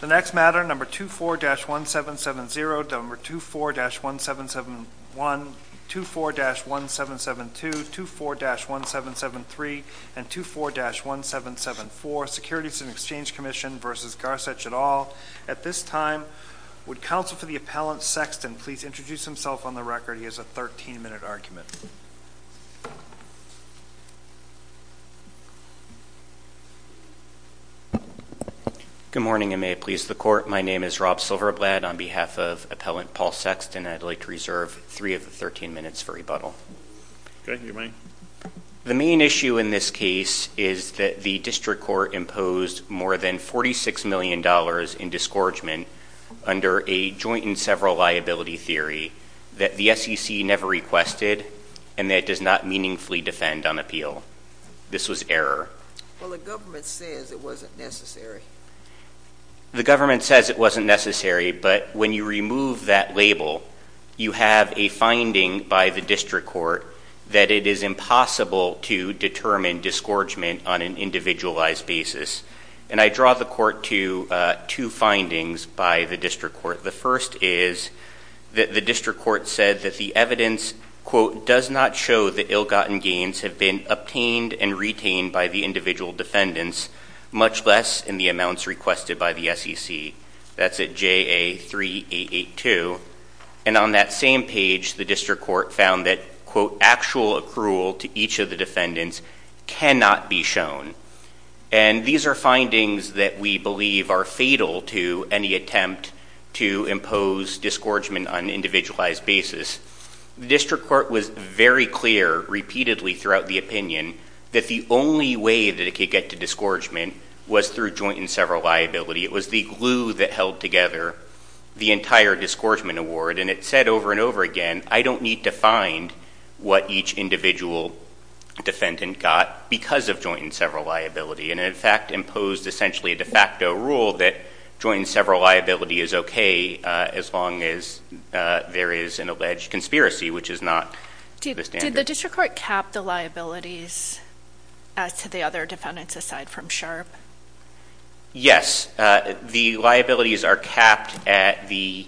The next matter, number 24-1770, number 24-1771, 24-1772, 24-1773, and 24-1774, Securities and Exchange Commission v. Gasarch et al. At this time, would Counsel for the Appellant Sexton please introduce himself on the record? He has a 13-minute argument. Good morning, and may it please the Court. My name is Rob Silverblatt on behalf of Appellant Paul Sexton, and I'd like to reserve three of the 13 minutes for rebuttal. The main issue in this case is that the District Court imposed more than $46 million in disgorgement under a joint and several liability theory that the SEC never requested and that it does not meaningfully defend on appeal. This was error. Well, the government says it wasn't necessary. The government says it wasn't necessary, but when you remove that label, you have a finding by the District Court that it is impossible to determine disgorgement on an individualized basis. And I draw the Court to two findings by the District Court. The first is that the District Court said that the evidence, quote, does not show that ill-gotten gains have been obtained and retained by the individual defendants, much less in the amounts requested by the SEC. That's at JA-3882. And on that same page, the District Court found that, quote, actual accrual to each of the defendants cannot be shown. And these are findings that we believe are fatal to any attempt to impose disgorgement on an individualized basis. The District Court was very clear, repeatedly throughout the opinion, that the only way that it could get to disgorgement was through joint and several liability. It was the glue that held together the entire disgorgement award, and it said over and over again, I don't need to find what each individual defendant got because of joint and several liability. And it, in fact, imposed essentially a de facto rule that joint and several liability is okay as long as there is an alleged conspiracy, which is not the standard. Did the District Court cap the liabilities as to the other defendants aside from Sharp? Yes. The liabilities are capped at the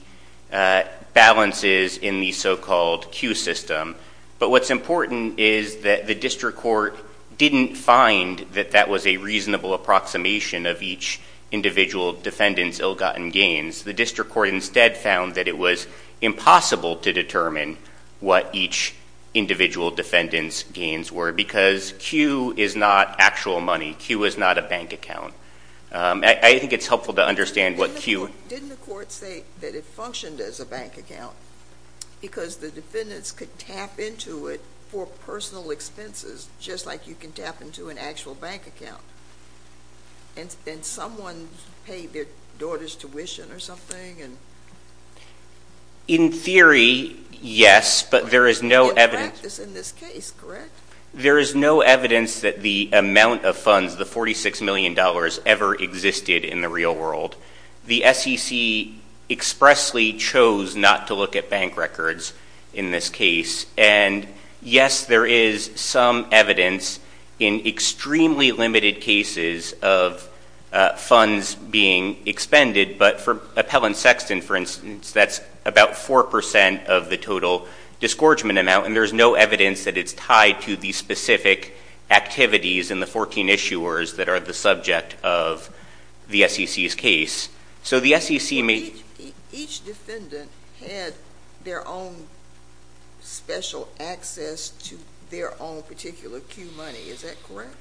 balances in the so-called Q system. But what's important is that the District Court didn't find that that was a reasonable approximation of each individual defendant's ill-gotten gains. The District Court instead found that it was impossible to determine what each individual defendant's gains were because Q is not actual money. Q is not a bank account. I think it's helpful to understand what Q... Didn't the court say that it functioned as a bank account because the defendants could tap into it for personal expenses just like you can tap into an actual bank account? And someone paid their daughter's tuition or something? In theory, yes, but there is no evidence... In practice in this case, correct? There is no evidence that the amount of funds, the $46 million ever existed in the real world. The SEC expressly chose not to look at bank records in this case, and yes, there is some evidence in extremely limited cases of funds being expended, but for Appellant Sexton, for instance, that's about 4% of the total disgorgement amount, and there's no evidence that it's tied to the specific activities in the 14 issuers that are the subject of the SEC's case. So the SEC may... Each defendant had their own special access to their own particular Q money, is that correct?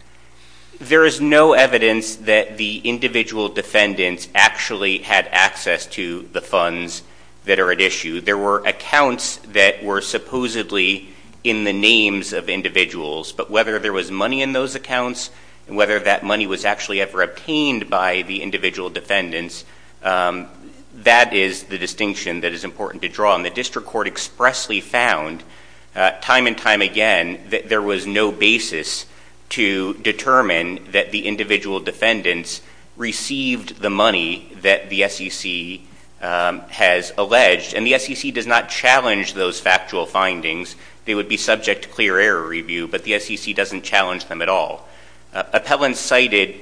There is no evidence that the individual defendants actually had access to the funds that are at issue. There were accounts that were supposedly in the names of individuals, but whether there was money in those accounts and whether that money was actually ever obtained by the individual defendants, that is the distinction that is important to draw, and the district court expressly found time and time again that there was no basis to determine that the individual The SEC does not challenge those factual findings. They would be subject to clear error review, but the SEC doesn't challenge them at all. Appellants cited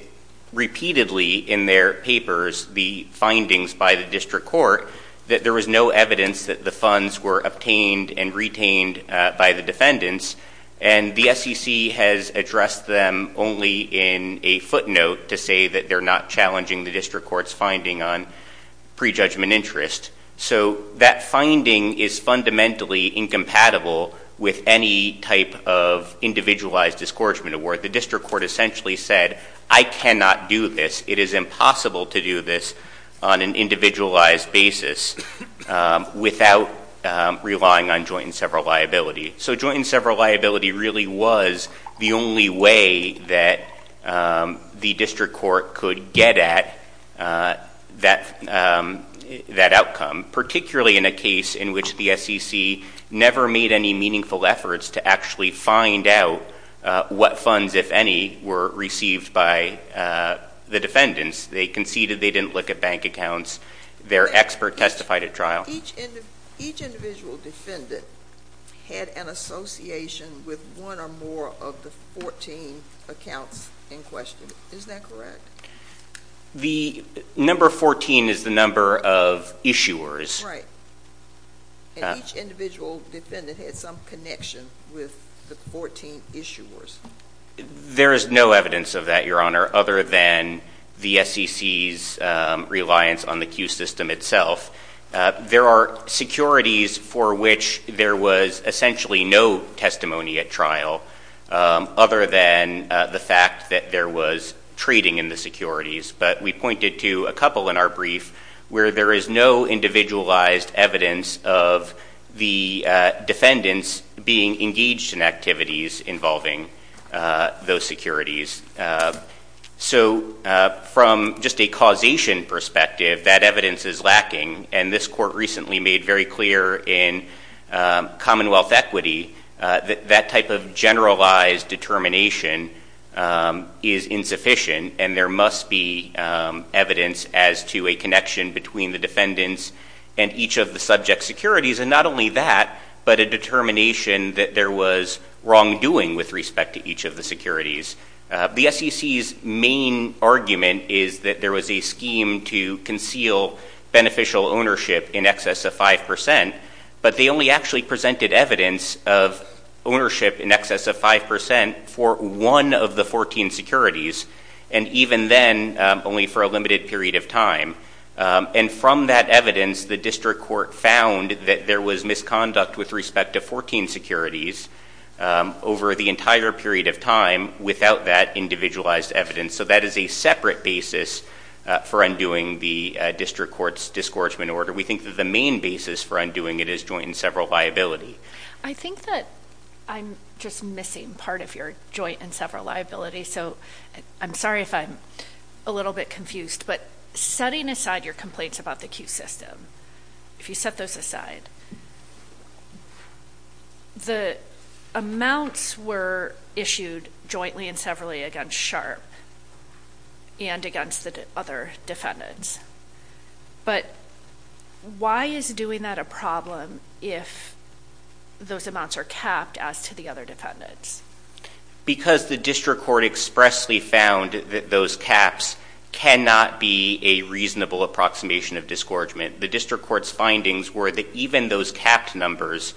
repeatedly in their papers the findings by the district court that there was no evidence that the funds were obtained and retained by the defendants, and the SEC has addressed them only in a footnote to say that they're not challenging the district court's finding on prejudgment interest. So that finding is fundamentally incompatible with any type of individualized discouragement award. The district court essentially said, I cannot do this. It is impossible to do this on an individualized basis without relying on joint and several liability. So joint and several liability really was the only way that the district court could get at that outcome, particularly in a case in which the SEC never made any meaningful efforts to actually find out what funds, if any, were received by the defendants. They conceded they didn't look at bank accounts. Their expert testified at trial. Each individual defendant had an association with one or more of the 14 accounts in question. Is that correct? The number 14 is the number of issuers. Right. And each individual defendant had some connection with the 14 issuers. There is no evidence of that, Your Honor, other than the SEC's reliance on the Q system itself. There are securities for which there was essentially no testimony at trial, other than the fact that there was trading in the securities. But we pointed to a couple in our brief where there is no individualized evidence of the defendants being engaged in activities involving those securities. So from just a causation perspective, that evidence is lacking, and this court recently made very clear in Commonwealth Equity that that type of generalized determination is insufficient, and there must be evidence as to a connection between the defendants and each of the subject securities, and not only that, but a determination that there was wrongdoing with respect to each of the securities. The SEC's main argument is that there was a scheme to conceal beneficial ownership in excess of 5%, but they only actually presented evidence of ownership in excess of 5% for one of the 14 securities, and even then, only for a limited period of time. And from that evidence, the district court found that there was misconduct with respect to 14 securities over the entire period of time without that individualized evidence. So that is a separate basis for undoing the district court's discouragement order. We think that the main basis for undoing it is joint and several liability. I think that I'm just missing part of your joint and several liability, so I'm sorry if I'm a little bit confused, but setting aside your complaints about the Q system, if you set those aside, the amounts were issued jointly and severally against Sharp and against the other defendants. But why is doing that a problem if those amounts are capped as to the other defendants? Because the district court expressly found that those caps cannot be a reasonable approximation of discouragement. The district court's findings were that even those capped numbers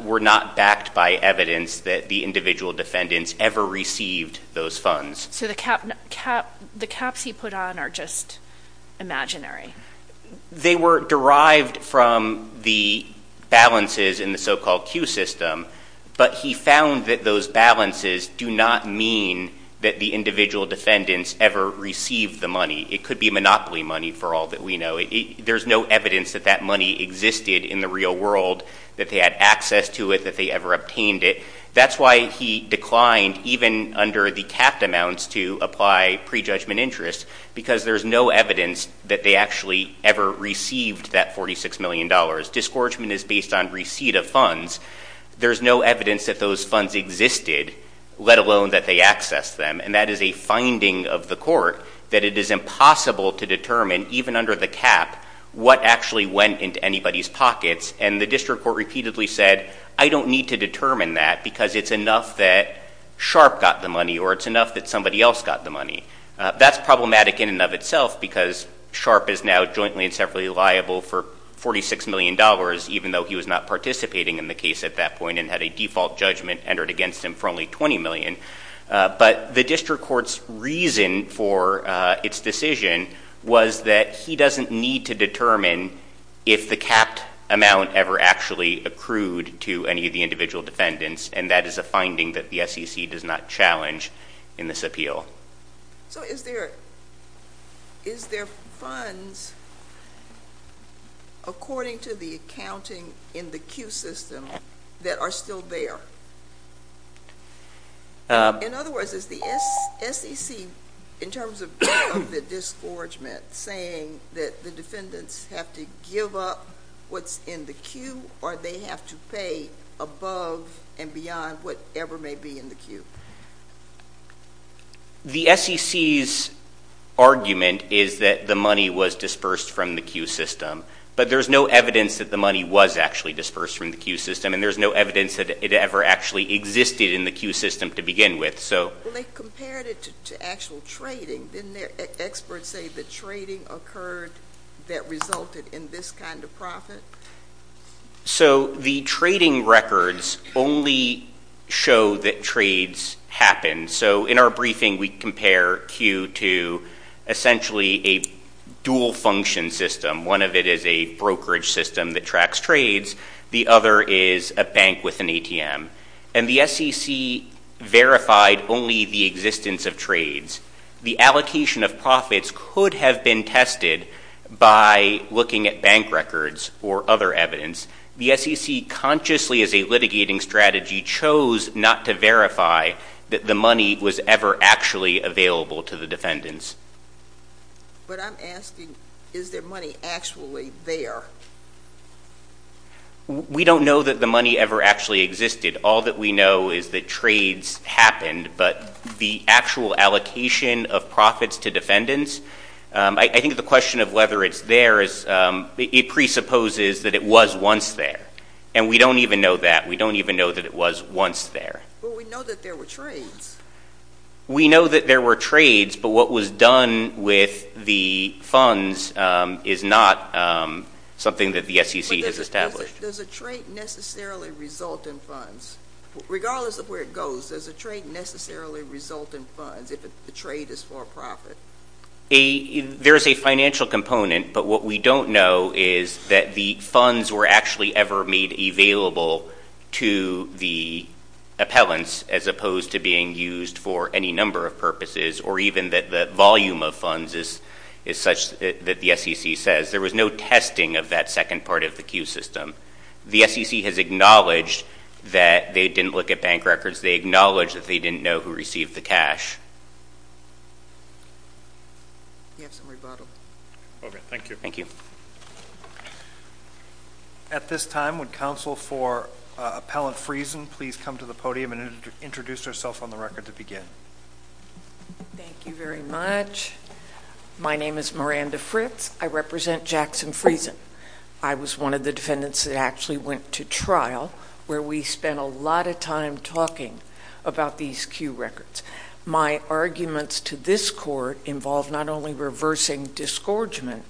were not backed by evidence that the individual defendants ever received those funds. So the caps he put on are just imaginary? They were derived from the balances in the so-called Q system, but he found that those balances do not mean that the individual defendants ever received the money. It could be monopoly money for all that we know. There's no evidence that that money existed in the real world, that they had access to it, that they ever obtained it. That's why he declined, even under the capped amounts, to apply prejudgment interest, because there's no evidence that they actually ever received that $46 million. Discouragement is based on receipt of funds. There's no evidence that those funds existed, let alone that they accessed them, and that is a finding of the court that it is impossible to determine, even under the cap, what actually went into anybody's pockets. And the district court repeatedly said, I don't need to determine that, because it's enough that Sharp got the money, or it's enough that somebody else got the money. That's problematic in and of itself, because Sharp is now jointly and separately liable for $46 million, even though he was not participating in the case at that point and had a default judgment entered against him for only $20 million. But the district court's reason for its decision was that he doesn't need to determine if the capped amount ever actually accrued to any of the individual defendants, and that is a finding that the SEC does not challenge in this appeal. So is there funds, according to the accounting in the Q system, that are still there? In other words, is the SEC, in terms of the discouragement, saying that the defendants have to give up what's in the Q, or they have to pay above and beyond whatever may be in the Q? The SEC's argument is that the money was dispersed from the Q system. But there's no evidence that the money was actually dispersed from the Q system, and there's no evidence that it ever actually existed in the Q system to begin with. Well, they compared it to actual trading. Didn't their experts say that trading occurred that resulted in this kind of profit? So the trading records only show that trades happen. So in our briefing, we compare Q to essentially a dual-function system. One of it is a brokerage system that tracks trades. The other is a bank with an ATM. And the SEC verified only the existence of trades. The allocation of profits could have been tested by looking at bank records or other evidence. The SEC consciously, as a litigating strategy, chose not to verify that the money was ever actually available to the defendants. But I'm asking, is their money actually there? We don't know that the money ever actually existed. All that we know is that trades happened, but the actual allocation of profits to defendants, I think the question of whether it's there is, it presupposes that it was once there. And we don't even know that. We don't even know that it was once there. But we know that there were trades. We know that there were trades, but what was done with the funds is not something that the SEC has established. But does a trade necessarily result in funds? Regardless of where it goes, does a trade necessarily result in funds if the trade is for profit? There is a financial component, but what we don't know is that the funds were actually ever made available to the appellants as opposed to being used for any number of purposes, or even that the volume of funds is such that the SEC says. There was no testing of that second part of the Q system. The SEC has acknowledged that they didn't look at bank records. They acknowledge that they didn't know who received the cash. Do you have some rebuttal? Thank you. At this time, would counsel for Appellant Friesen please come to the podium and introduce herself on the record to begin? Thank you very much. My name is Miranda Fritz. I represent Jackson Friesen. I was one of the defendants that actually went to trial, where we spent a lot of time talking about these Q records. My arguments to this court involve not only reversing disgorgement,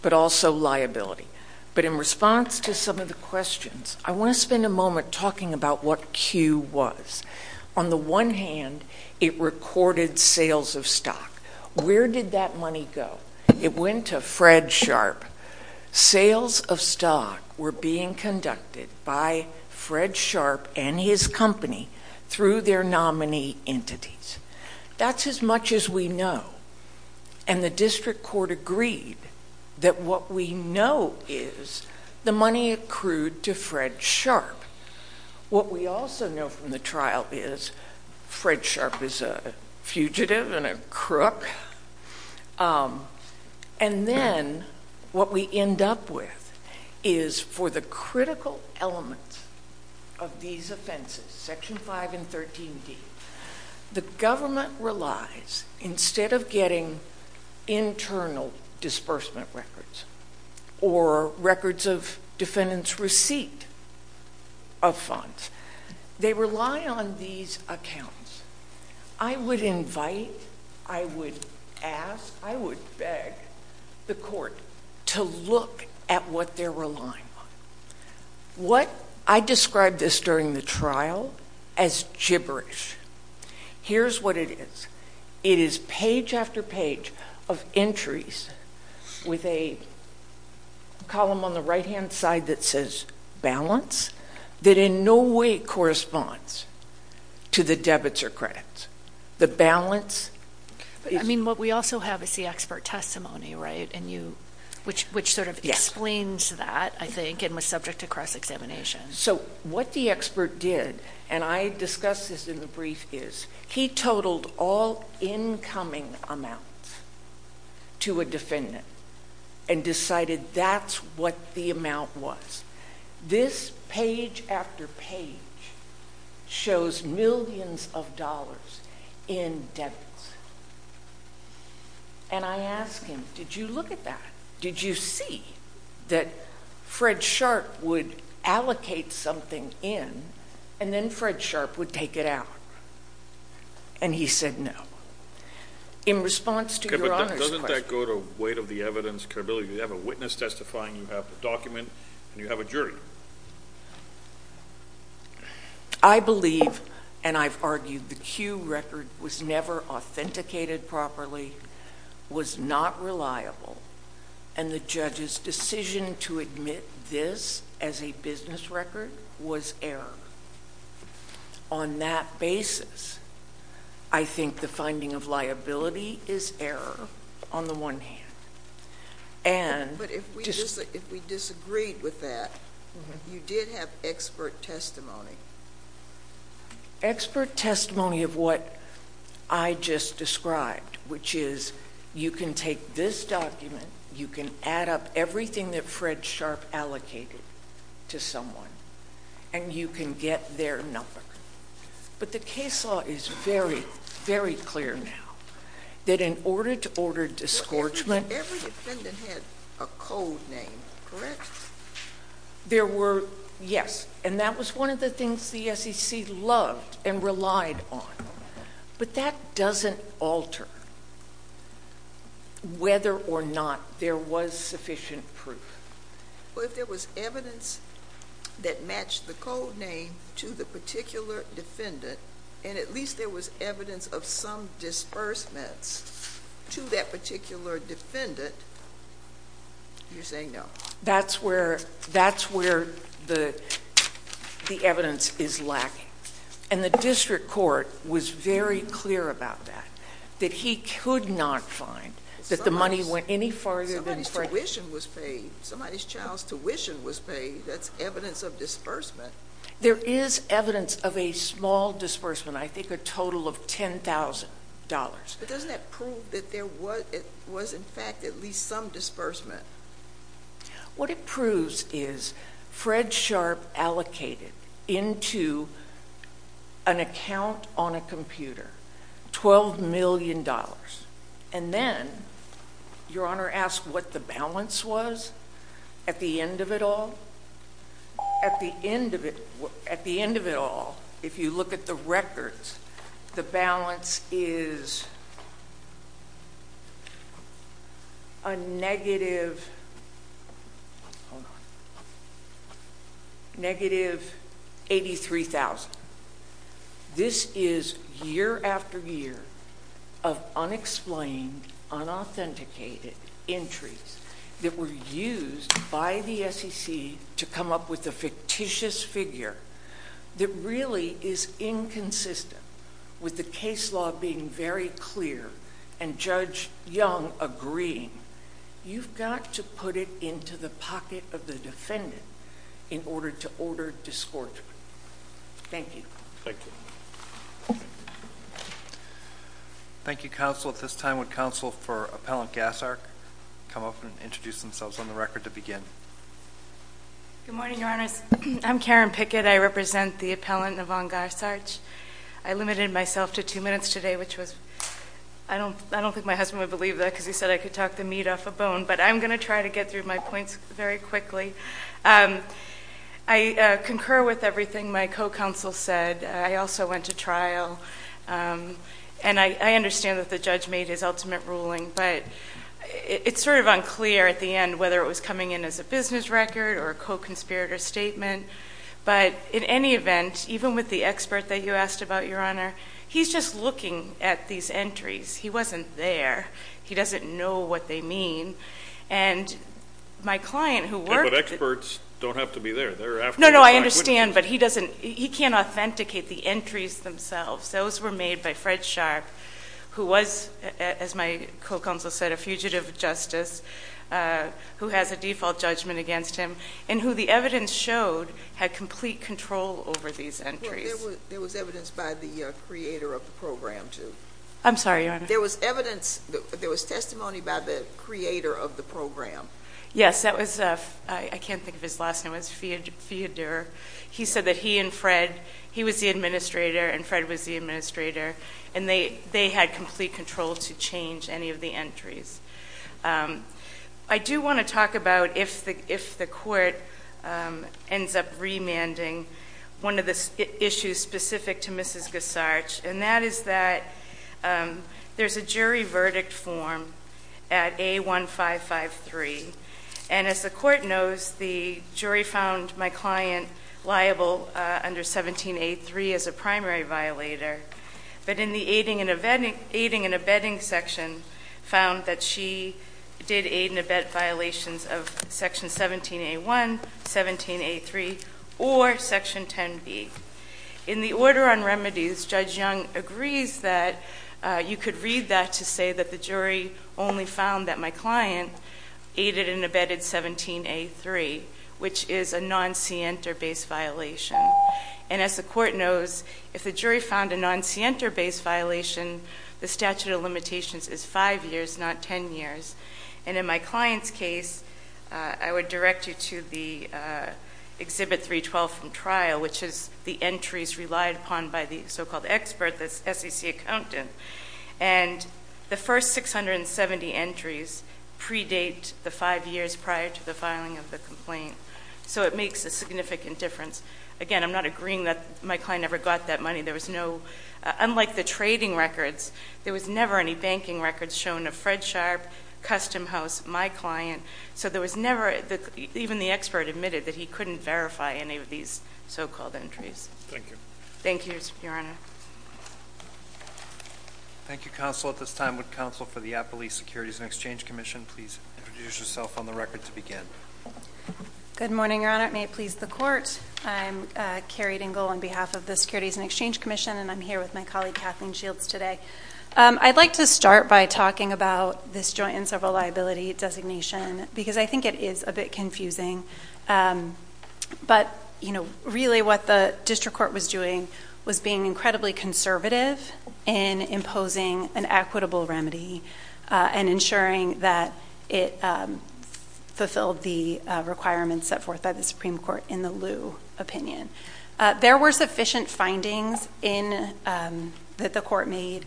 but also liability. But in response to some of the questions, I want to spend a moment talking about what Q was. On the one hand, it recorded sales of stock. Where did that money go? It went to Fred Sharp. Sales of stock were being conducted by Fred Sharp and his company through their nominee entities. That's as much as we know. The district court agreed that what we know is the money accrued to Fred Sharp. What we also know from the trial is Fred Sharp is a fugitive and a crook. Then what we end up with is for the critical elements of these offenses, Section 5 and 13D, the government relies, instead of getting internal disbursement records or records of defendant's receipt of funds, they rely on these accounts. I would invite, I would ask, I would beg the court to look at what they're relying on. What, I described this during the trial as gibberish. Here's what it is. It is page after page of entries with a column on the right-hand side that says balance that in no way corresponds to the debits or credits. The balance is— I mean, what we also have is the expert testimony, right, and you, which sort of explains that, I think, and was subject to cross-examination. What the expert did, and I discussed this in the brief, is he totaled all incoming amounts to a defendant and decided that's what the amount was. This page after page shows millions of dollars in debits. I ask him, did you look at that? Did you see that Fred Sharp would allocate something in and then Fred Sharp would take it out? And he said no. In response to your Honor's question— Okay, but doesn't that go to weight of the evidence, credibility? You have a witness testifying, you have a document, and you have a jury. I believe, and I've argued, the Q record was never authenticated properly, was not reliable, and the judge's decision to admit this as a business record was error. On that basis, I think the finding of liability is error on the one hand, and— But if we disagreed with that, you did have expert testimony. Expert testimony of what I just described, which is you can take this document, you can add up everything that Fred Sharp allocated to someone, and you can get their number. But the case law is very, very clear now that in order to order disgorgement— The defendant had a code name, correct? There were, yes, and that was one of the things the SEC loved and relied on. But that doesn't alter whether or not there was sufficient proof. Well, if there was evidence that matched the code name to the particular defendant, and at least there was evidence of some disbursements to that particular defendant, you're saying no? That's where the evidence is lacking. And the district court was very clear about that, that he could not find that the money went any farther than Fred... Somebody's tuition was paid. Somebody's child's tuition was paid. That's evidence of disbursement. There is evidence of a small disbursement, I think a total of $10,000. But doesn't that prove that there was, in fact, at least some disbursement? What it proves is Fred Sharp allocated into an account on a computer $12 million. And then, Your Honor asked what the balance was at the end of it all? At the end of it all, if you look at the records, the balance is a negative, hold on, negative $83,000. This is year after year of unexplained, unauthenticated entries that were used by the SEC to come up with a fictitious figure that really is inconsistent with the case law being very clear and Judge Young agreeing. You've got to put it into the pocket of the defendant in order to order disgorgement. Thank you. Thank you. Thank you, Counsel. At this time, would Counsel for Appellant Gassarch come up and introduce themselves on the record to begin? Good morning, Your Honors. I'm Karen Pickett. I represent the appellant, Yvonne Gassarch. I limited myself to two minutes today, which was, I don't think my husband would believe that because he said I could talk the meat off a bone. But I'm going to try to get through my points very quickly. I concur with everything my co-counsel said. I also went to trial and I understand that the judge made his ultimate ruling. But it's sort of unclear at the end whether it was coming in as a business record or a co-conspirator statement. But in any event, even with the expert that you asked about, Your Honor, he's just looking at these entries. He wasn't there. He doesn't know what they mean. And my client who worked- But experts don't have to be there. They're after- No, no, I understand. But he can't authenticate the entries themselves. Those were made by Fred Sharp, who was, as my co-counsel said, a fugitive justice who has a default judgment against him and who the evidence showed had complete control over these entries. There was evidence by the creator of the program, too. I'm sorry, Your Honor. There was evidence, there was testimony by the creator of the program. Yes, that was, I can't think of his last name, it was Feodor. He said that he and Fred, he was the administrator and Fred was the administrator. And they had complete control to change any of the entries. I do want to talk about if the court ends up remanding one of the issues specific to Mrs. Gessarch. And that is that there's a jury verdict form at A1553. And as the court knows, the jury found my client liable under 17A3 as a primary violator. But in the aiding and abetting section, found that she did aid and abet violations of section 17A1, 17A3, or section 10B, in the order on remedies, Judge Young agrees that you could read that to say that the jury only found that my client aided and abetted 17A3, which is a non-Sienta-based violation. And as the court knows, if the jury found a non-Sienta-based violation, the statute of limitations is five years, not ten years. And in my client's case, I would direct you to the exhibit 312 from trial, which is the entries relied upon by the so-called expert, the SEC accountant. And the first 670 entries predate the five years prior to the filing of the complaint. So it makes a significant difference. Again, I'm not agreeing that my client ever got that money. There was no, unlike the trading records, there was never any banking records shown of Fred Sharp, Custom House, my client. So there was never, even the expert admitted that he couldn't verify any of these so-called entries. Thank you. Thank you, Your Honor. Thank you, counsel. At this time, would counsel for the Appalachian Securities and Exchange Commission please introduce yourself on the record to begin. Good morning, Your Honor. May it please the court. I'm Carrie Dingle on behalf of the Securities and Exchange Commission, and I'm here with my colleague Kathleen Shields today. I'd like to start by talking about this joint and several liability designation, because I think it is a bit confusing. But really what the district court was doing was being incredibly conservative in imposing an equitable remedy and ensuring that it fulfilled the requirements set forth by the Supreme Court in the Liu opinion. There were sufficient findings that the court made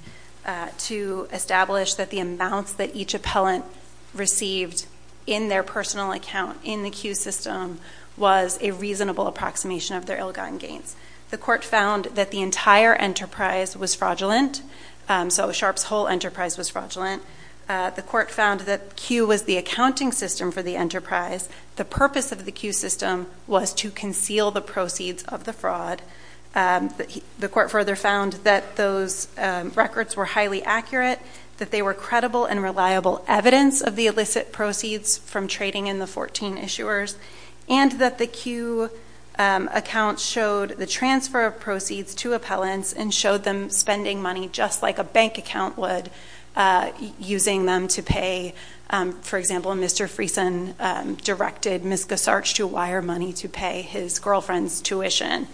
to establish that the amounts that each appellant received in their personal account in the Q system was a reasonable approximation of their ill-gotten gains. The court found that the entire enterprise was fraudulent, so Sharp's whole enterprise was fraudulent. The court found that Q was the accounting system for the enterprise. The purpose of the Q system was to conceal the proceeds of the fraud. The court further found that those records were highly accurate, that they were credible and reliable evidence of the illicit proceeds from trading in the 14 issuers. And that the Q account showed the transfer of proceeds to appellants and showed them spending money just like a bank account would, using them to pay. For example, Mr. Friesen directed Ms. Gasarch to wire money to pay his girlfriend's tuition,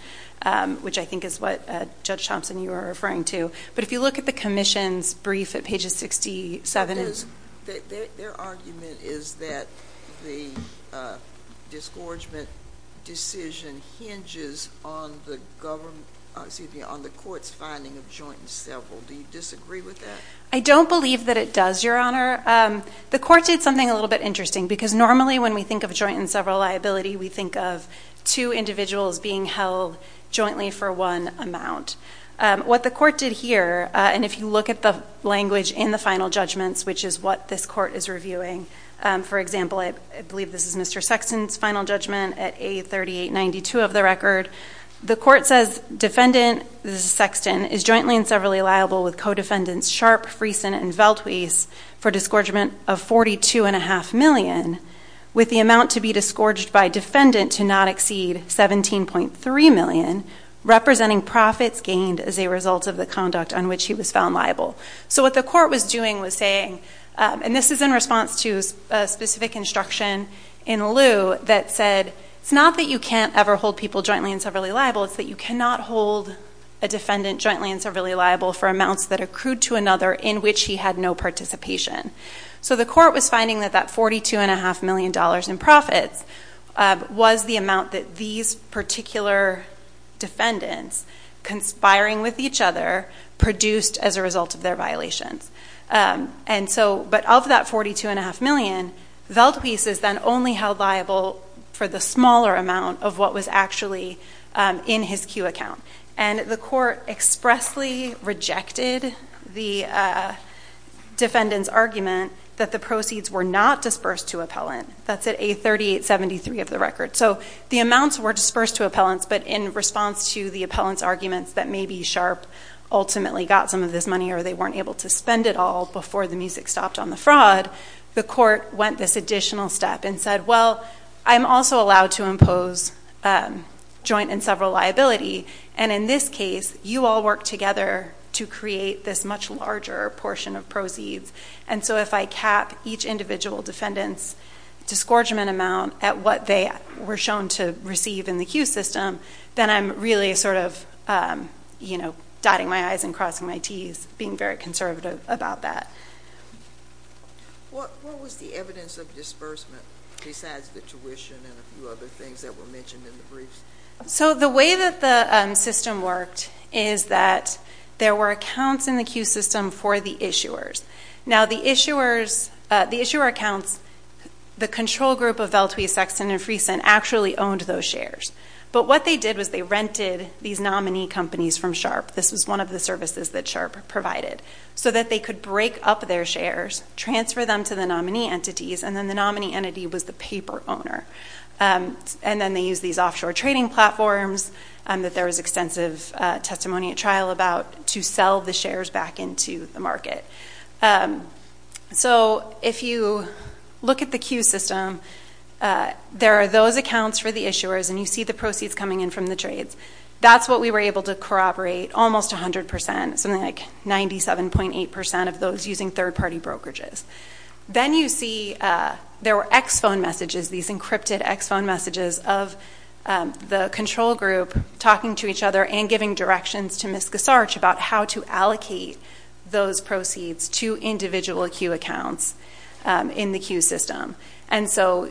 which I think is what Judge Thompson, you were referring to. But if you look at the commission's brief at pages 67 and- Their argument is that the disgorgement decision hinges on the government, excuse me, on the court's finding of joint and several. Do you disagree with that? I don't believe that it does, Your Honor. The court did something a little bit interesting, because normally when we think of joint and several liability, we think of two individuals being held jointly for one amount. What the court did here, and if you look at the language in the final judgments, which is what this court is reviewing. For example, I believe this is Mr. Sexton's final judgment at A3892 of the record. The court says defendant Sexton is jointly and severally liable with co-defendants Sharp, Friesen, and Veltweese for disgorgement of 42.5 million. With the amount to be disgorged by defendant to not exceed 17.3 million, representing profits gained as a result of the conduct on which he was found liable. So what the court was doing was saying, and this is in response to a specific instruction in lieu that said, it's not that you can't ever hold people jointly and severally liable, it's that you cannot hold a defendant jointly and severally liable for amounts that accrued to another in which he had no participation. So the court was finding that that $42.5 million in profits was the amount that these particular defendants, conspiring with each other, produced as a result of their violations. And so, but of that 42.5 million, Veltweese is then only held liable for the smaller amount of what was actually in his Q account. And the court expressly rejected the defendant's argument that the proceeds were not dispersed to appellant, that's at A3873 of the record. So the amounts were dispersed to appellants, but in response to the appellant's arguments that maybe Sharpe ultimately got some of this money or they weren't able to spend it all before the music stopped on the fraud. The court went this additional step and said, well, I'm also allowed to impose joint and several liability, and in this case, you all work together to create this much larger portion of proceeds. And so if I cap each individual defendant's disgorgement amount at what they were shown to receive in the Q system, then I'm really sort of dotting my I's and crossing my T's, being very conservative about that. What was the evidence of disbursement besides the tuition and a few other things that were mentioned in the briefs? So the way that the system worked is that there were accounts in the Q system for the issuers. Now the issuer accounts, the control group of Veltwee, Sexton, and Freeson actually owned those shares. But what they did was they rented these nominee companies from Sharpe. This was one of the services that Sharpe provided. So that they could break up their shares, transfer them to the nominee entities, and then the nominee entity was the paper owner. And then they used these offshore trading platforms that there was extensive testimony at trial about to sell the shares back into the market. So if you look at the Q system, there are those accounts for the issuers, and you see the proceeds coming in from the trades. That's what we were able to corroborate almost 100%, something like 97.8% of those using third party brokerages. Then you see there were ex-phone messages, these encrypted ex-phone messages of the control group talking to each other and giving directions to Ms. Gasarch about how to allocate those proceeds to individual Q accounts in the Q system. And so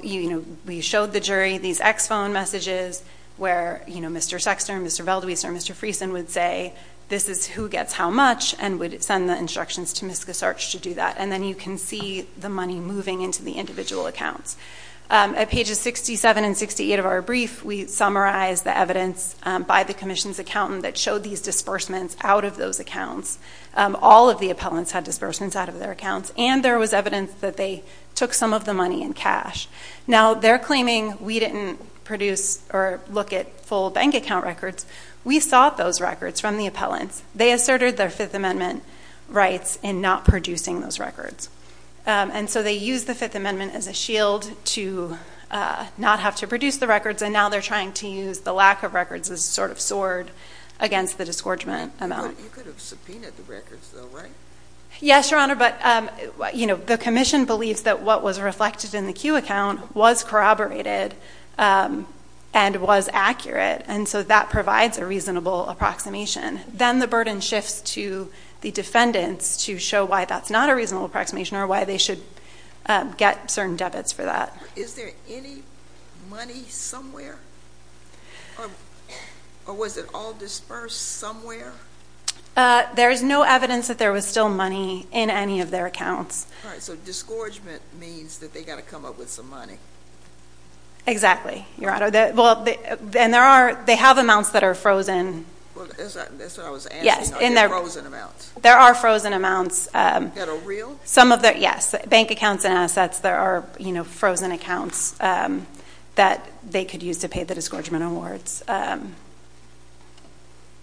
we showed the jury these ex-phone messages where Mr. Sexton, Mr. Veltwee, Mr. Freeson would say this is who gets how much and would send the instructions to Ms. Gasarch to do that. And then you can see the money moving into the individual accounts. At pages 67 and 68 of our brief, we summarized the evidence by the commission's accountant that showed these disbursements out of those accounts. All of the appellants had disbursements out of their accounts, and there was evidence that they took some of the money in cash. Now, they're claiming we didn't produce or look at full bank account records. We sought those records from the appellants. They asserted their Fifth Amendment rights in not producing those records. And so they used the Fifth Amendment as a shield to not have to produce the records, and now they're trying to use the lack of records as a sort of sword against the disgorgement amount. You could have subpoenaed the records though, right? Yes, Your Honor, but the commission believes that what was reflected in the Q account was corroborated and was accurate. And so that provides a reasonable approximation. Then the burden shifts to the defendants to show why that's not a reasonable approximation, or why they should get certain debits for that. Is there any money somewhere, or was it all dispersed somewhere? There is no evidence that there was still money in any of their accounts. All right, so disgorgement means that they gotta come up with some money. Exactly, Your Honor, and they have amounts that are frozen. That's what I was asking, they're frozen amounts. There are frozen amounts. That are real? Some of them, yes. Bank accounts and assets, there are frozen accounts that they could use to pay the disgorgement awards.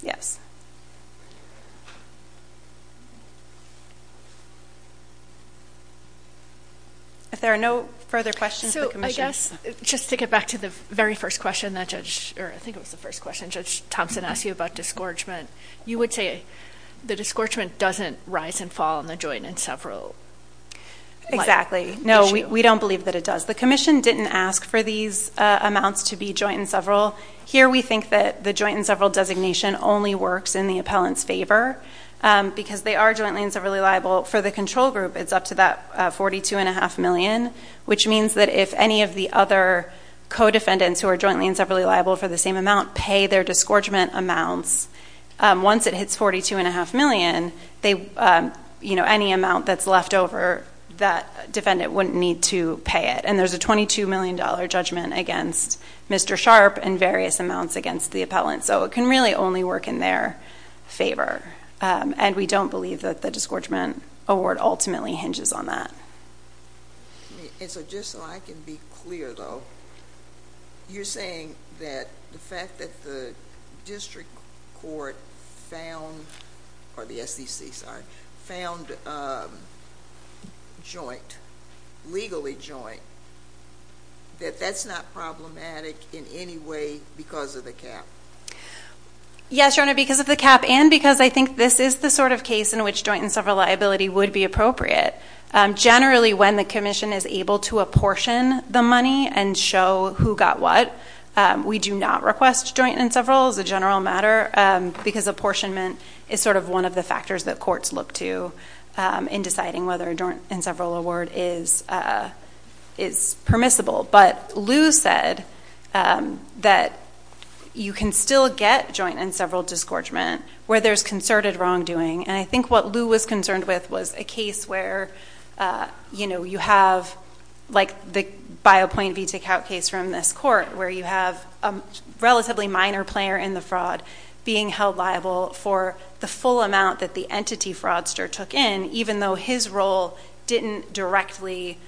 Yes. If there are no further questions, the commission- Just to get back to the very first question that Judge, or I think it was the first question Judge Thompson asked you about disgorgement. You would say the disgorgement doesn't rise and fall on the joint and several. Exactly. No, we don't believe that it does. The commission didn't ask for these amounts to be joint and several. Here we think that the joint and several designation only works in the appellant's favor, because they are jointly and separately liable for the control group, it's up to that 42.5 million. Which means that if any of the other co-defendants who are jointly and separately liable for the same amount pay their disgorgement amounts. Once it hits 42.5 million, any amount that's left over, that defendant wouldn't need to pay it. And there's a $22 million judgment against Mr. Sharp and various amounts against the appellant. So it can really only work in their favor. And we don't believe that the disgorgement award ultimately hinges on that. And so just so I can be clear though, you're saying that the fact that the district court found, or the SEC, sorry, found jointly, legally joint, that that's not problematic in any way because of the cap? Yes, Your Honor, because of the cap and because I think this is the sort of case in which joint and several liability would be appropriate. Generally, when the commission is able to apportion the money and show who got what. We do not request joint and several as a general matter, because apportionment is sort of one of the factors that courts look to. In deciding whether a joint and several award is permissible. But Lou said that you can still get joint and several disgorgement where there's concerted wrongdoing. And I think what Lou was concerned with was a case where you have, like the Biopoint v Takeout case from this court, where you have a relatively minor player in the fraud. Being held liable for the full amount that the entity fraudster took in, even though his role didn't directly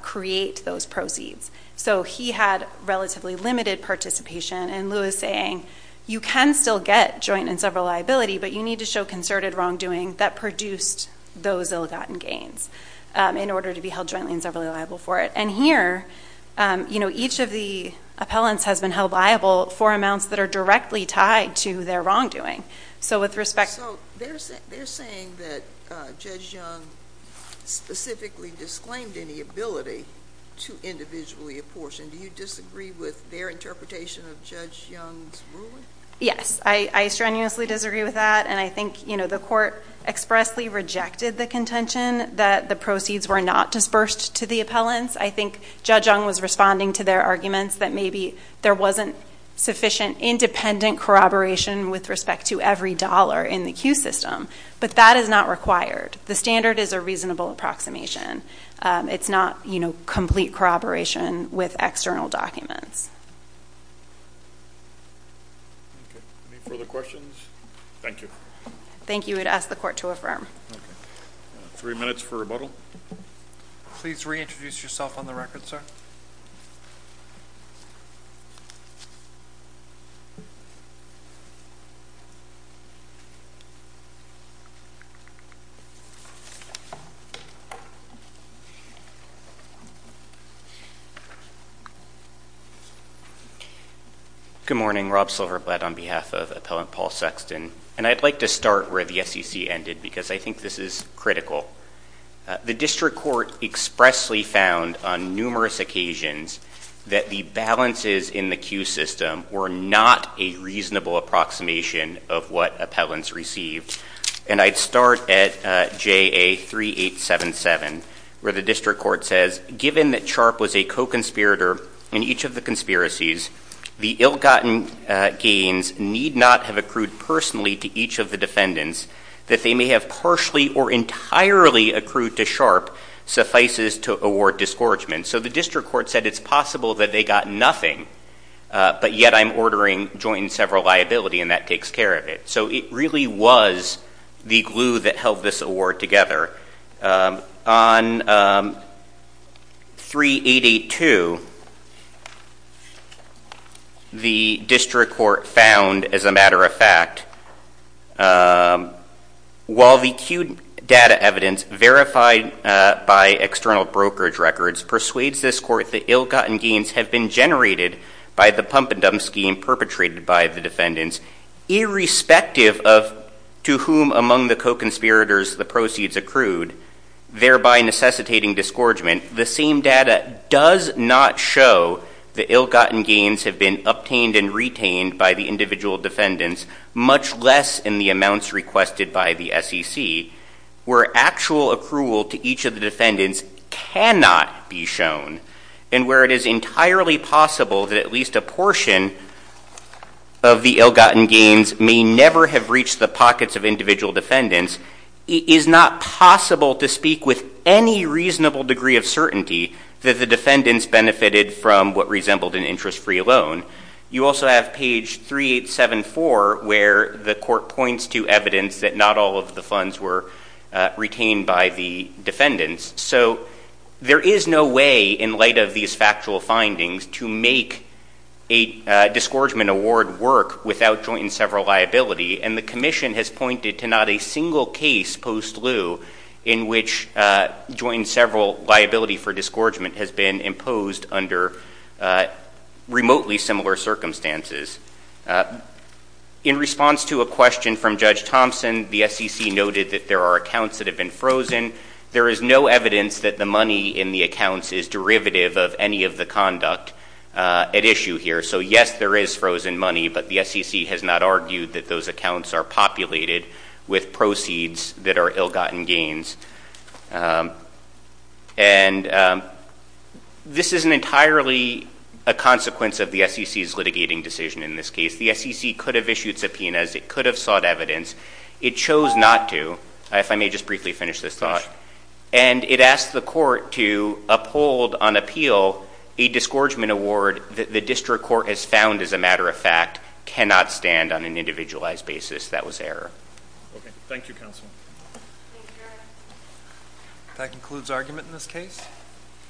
create those proceeds. So he had relatively limited participation. And Lou is saying, you can still get joint and several liability, but you need to show concerted wrongdoing that produced those ill-gotten gains in order to be held jointly and severally liable for it. And here, each of the appellants has been held liable for amounts that are directly tied to their wrongdoing. So with respect- So they're saying that Judge Young specifically disclaimed any ability to individually apportion. Do you disagree with their interpretation of Judge Young's ruling? Yes, I strenuously disagree with that. And I think the court expressly rejected the contention that the proceeds were not dispersed to the appellants. I think Judge Young was responding to their arguments that maybe there wasn't sufficient independent corroboration with respect to every dollar in the queue system, but that is not required. The standard is a reasonable approximation. It's not complete corroboration with external documents. Any further questions? Thank you. Thank you, I'd ask the court to affirm. Three minutes for rebuttal. Please reintroduce yourself on the record, sir. Good morning, Rob Silverblatt on behalf of Appellant Paul Sexton. And I'd like to start where the SEC ended, because I think this is critical. The district court expressly found on numerous occasions that the balances in the queue system were not a reasonable approximation of what appellants received. And I'd start at JA 3877, where the district court says, given that Sharp was a co-conspirator in each of the conspiracies, the ill-gotten gains need not have accrued personally to each of the defendants. That they may have partially or entirely accrued to Sharp suffices to award discouragement. So the district court said it's possible that they got nothing, but yet I'm ordering joint and several liability, and that takes care of it. So it really was the glue that held this award together. On 3882, the district court found, as a matter of fact, while the queued data evidence verified by external brokerage records persuades this court that ill-gotten gains have been generated by the pump and dump scheme perpetrated by the defendants, irrespective of to whom among the co-conspirators the proceeds accrued, thereby necessitating discouragement. The same data does not show the ill-gotten gains have been obtained and retained by the individual defendants, much less in the amounts requested by the SEC, where actual accrual to each of the defendants cannot be shown, and where it is entirely possible that at least a portion of the ill-gotten gains may never have reached the pockets of individual defendants. It is not possible to speak with any reasonable degree of certainty that the defendants benefited from what resembled an interest-free loan. You also have page 3874, where the court points to evidence that not all of the funds were retained by the defendants. So there is no way, in light of these factual findings, to make a discouragement award work without joint and several liability, and the commission has pointed to not a single case post-lieu in which joint and several liability for discouragement has been imposed under remotely similar circumstances. In response to a question from Judge Thompson, the SEC noted that there are accounts that have been frozen. There is no evidence that the money in the accounts is derivative of any of the conduct at issue here. So yes, there is frozen money, but the SEC has not argued that those accounts are populated with proceeds that are ill-gotten gains. And this isn't entirely a consequence of the SEC's litigating decision in this case. The SEC could have issued subpoenas. It could have sought evidence. It chose not to. If I may just briefly finish this thought. And it asked the court to uphold on appeal a discouragement award that the district court has found, as a matter of fact, cannot stand on an individualized basis. That was error. OK. Thank you, counsel. Thank you. That concludes argument in this case.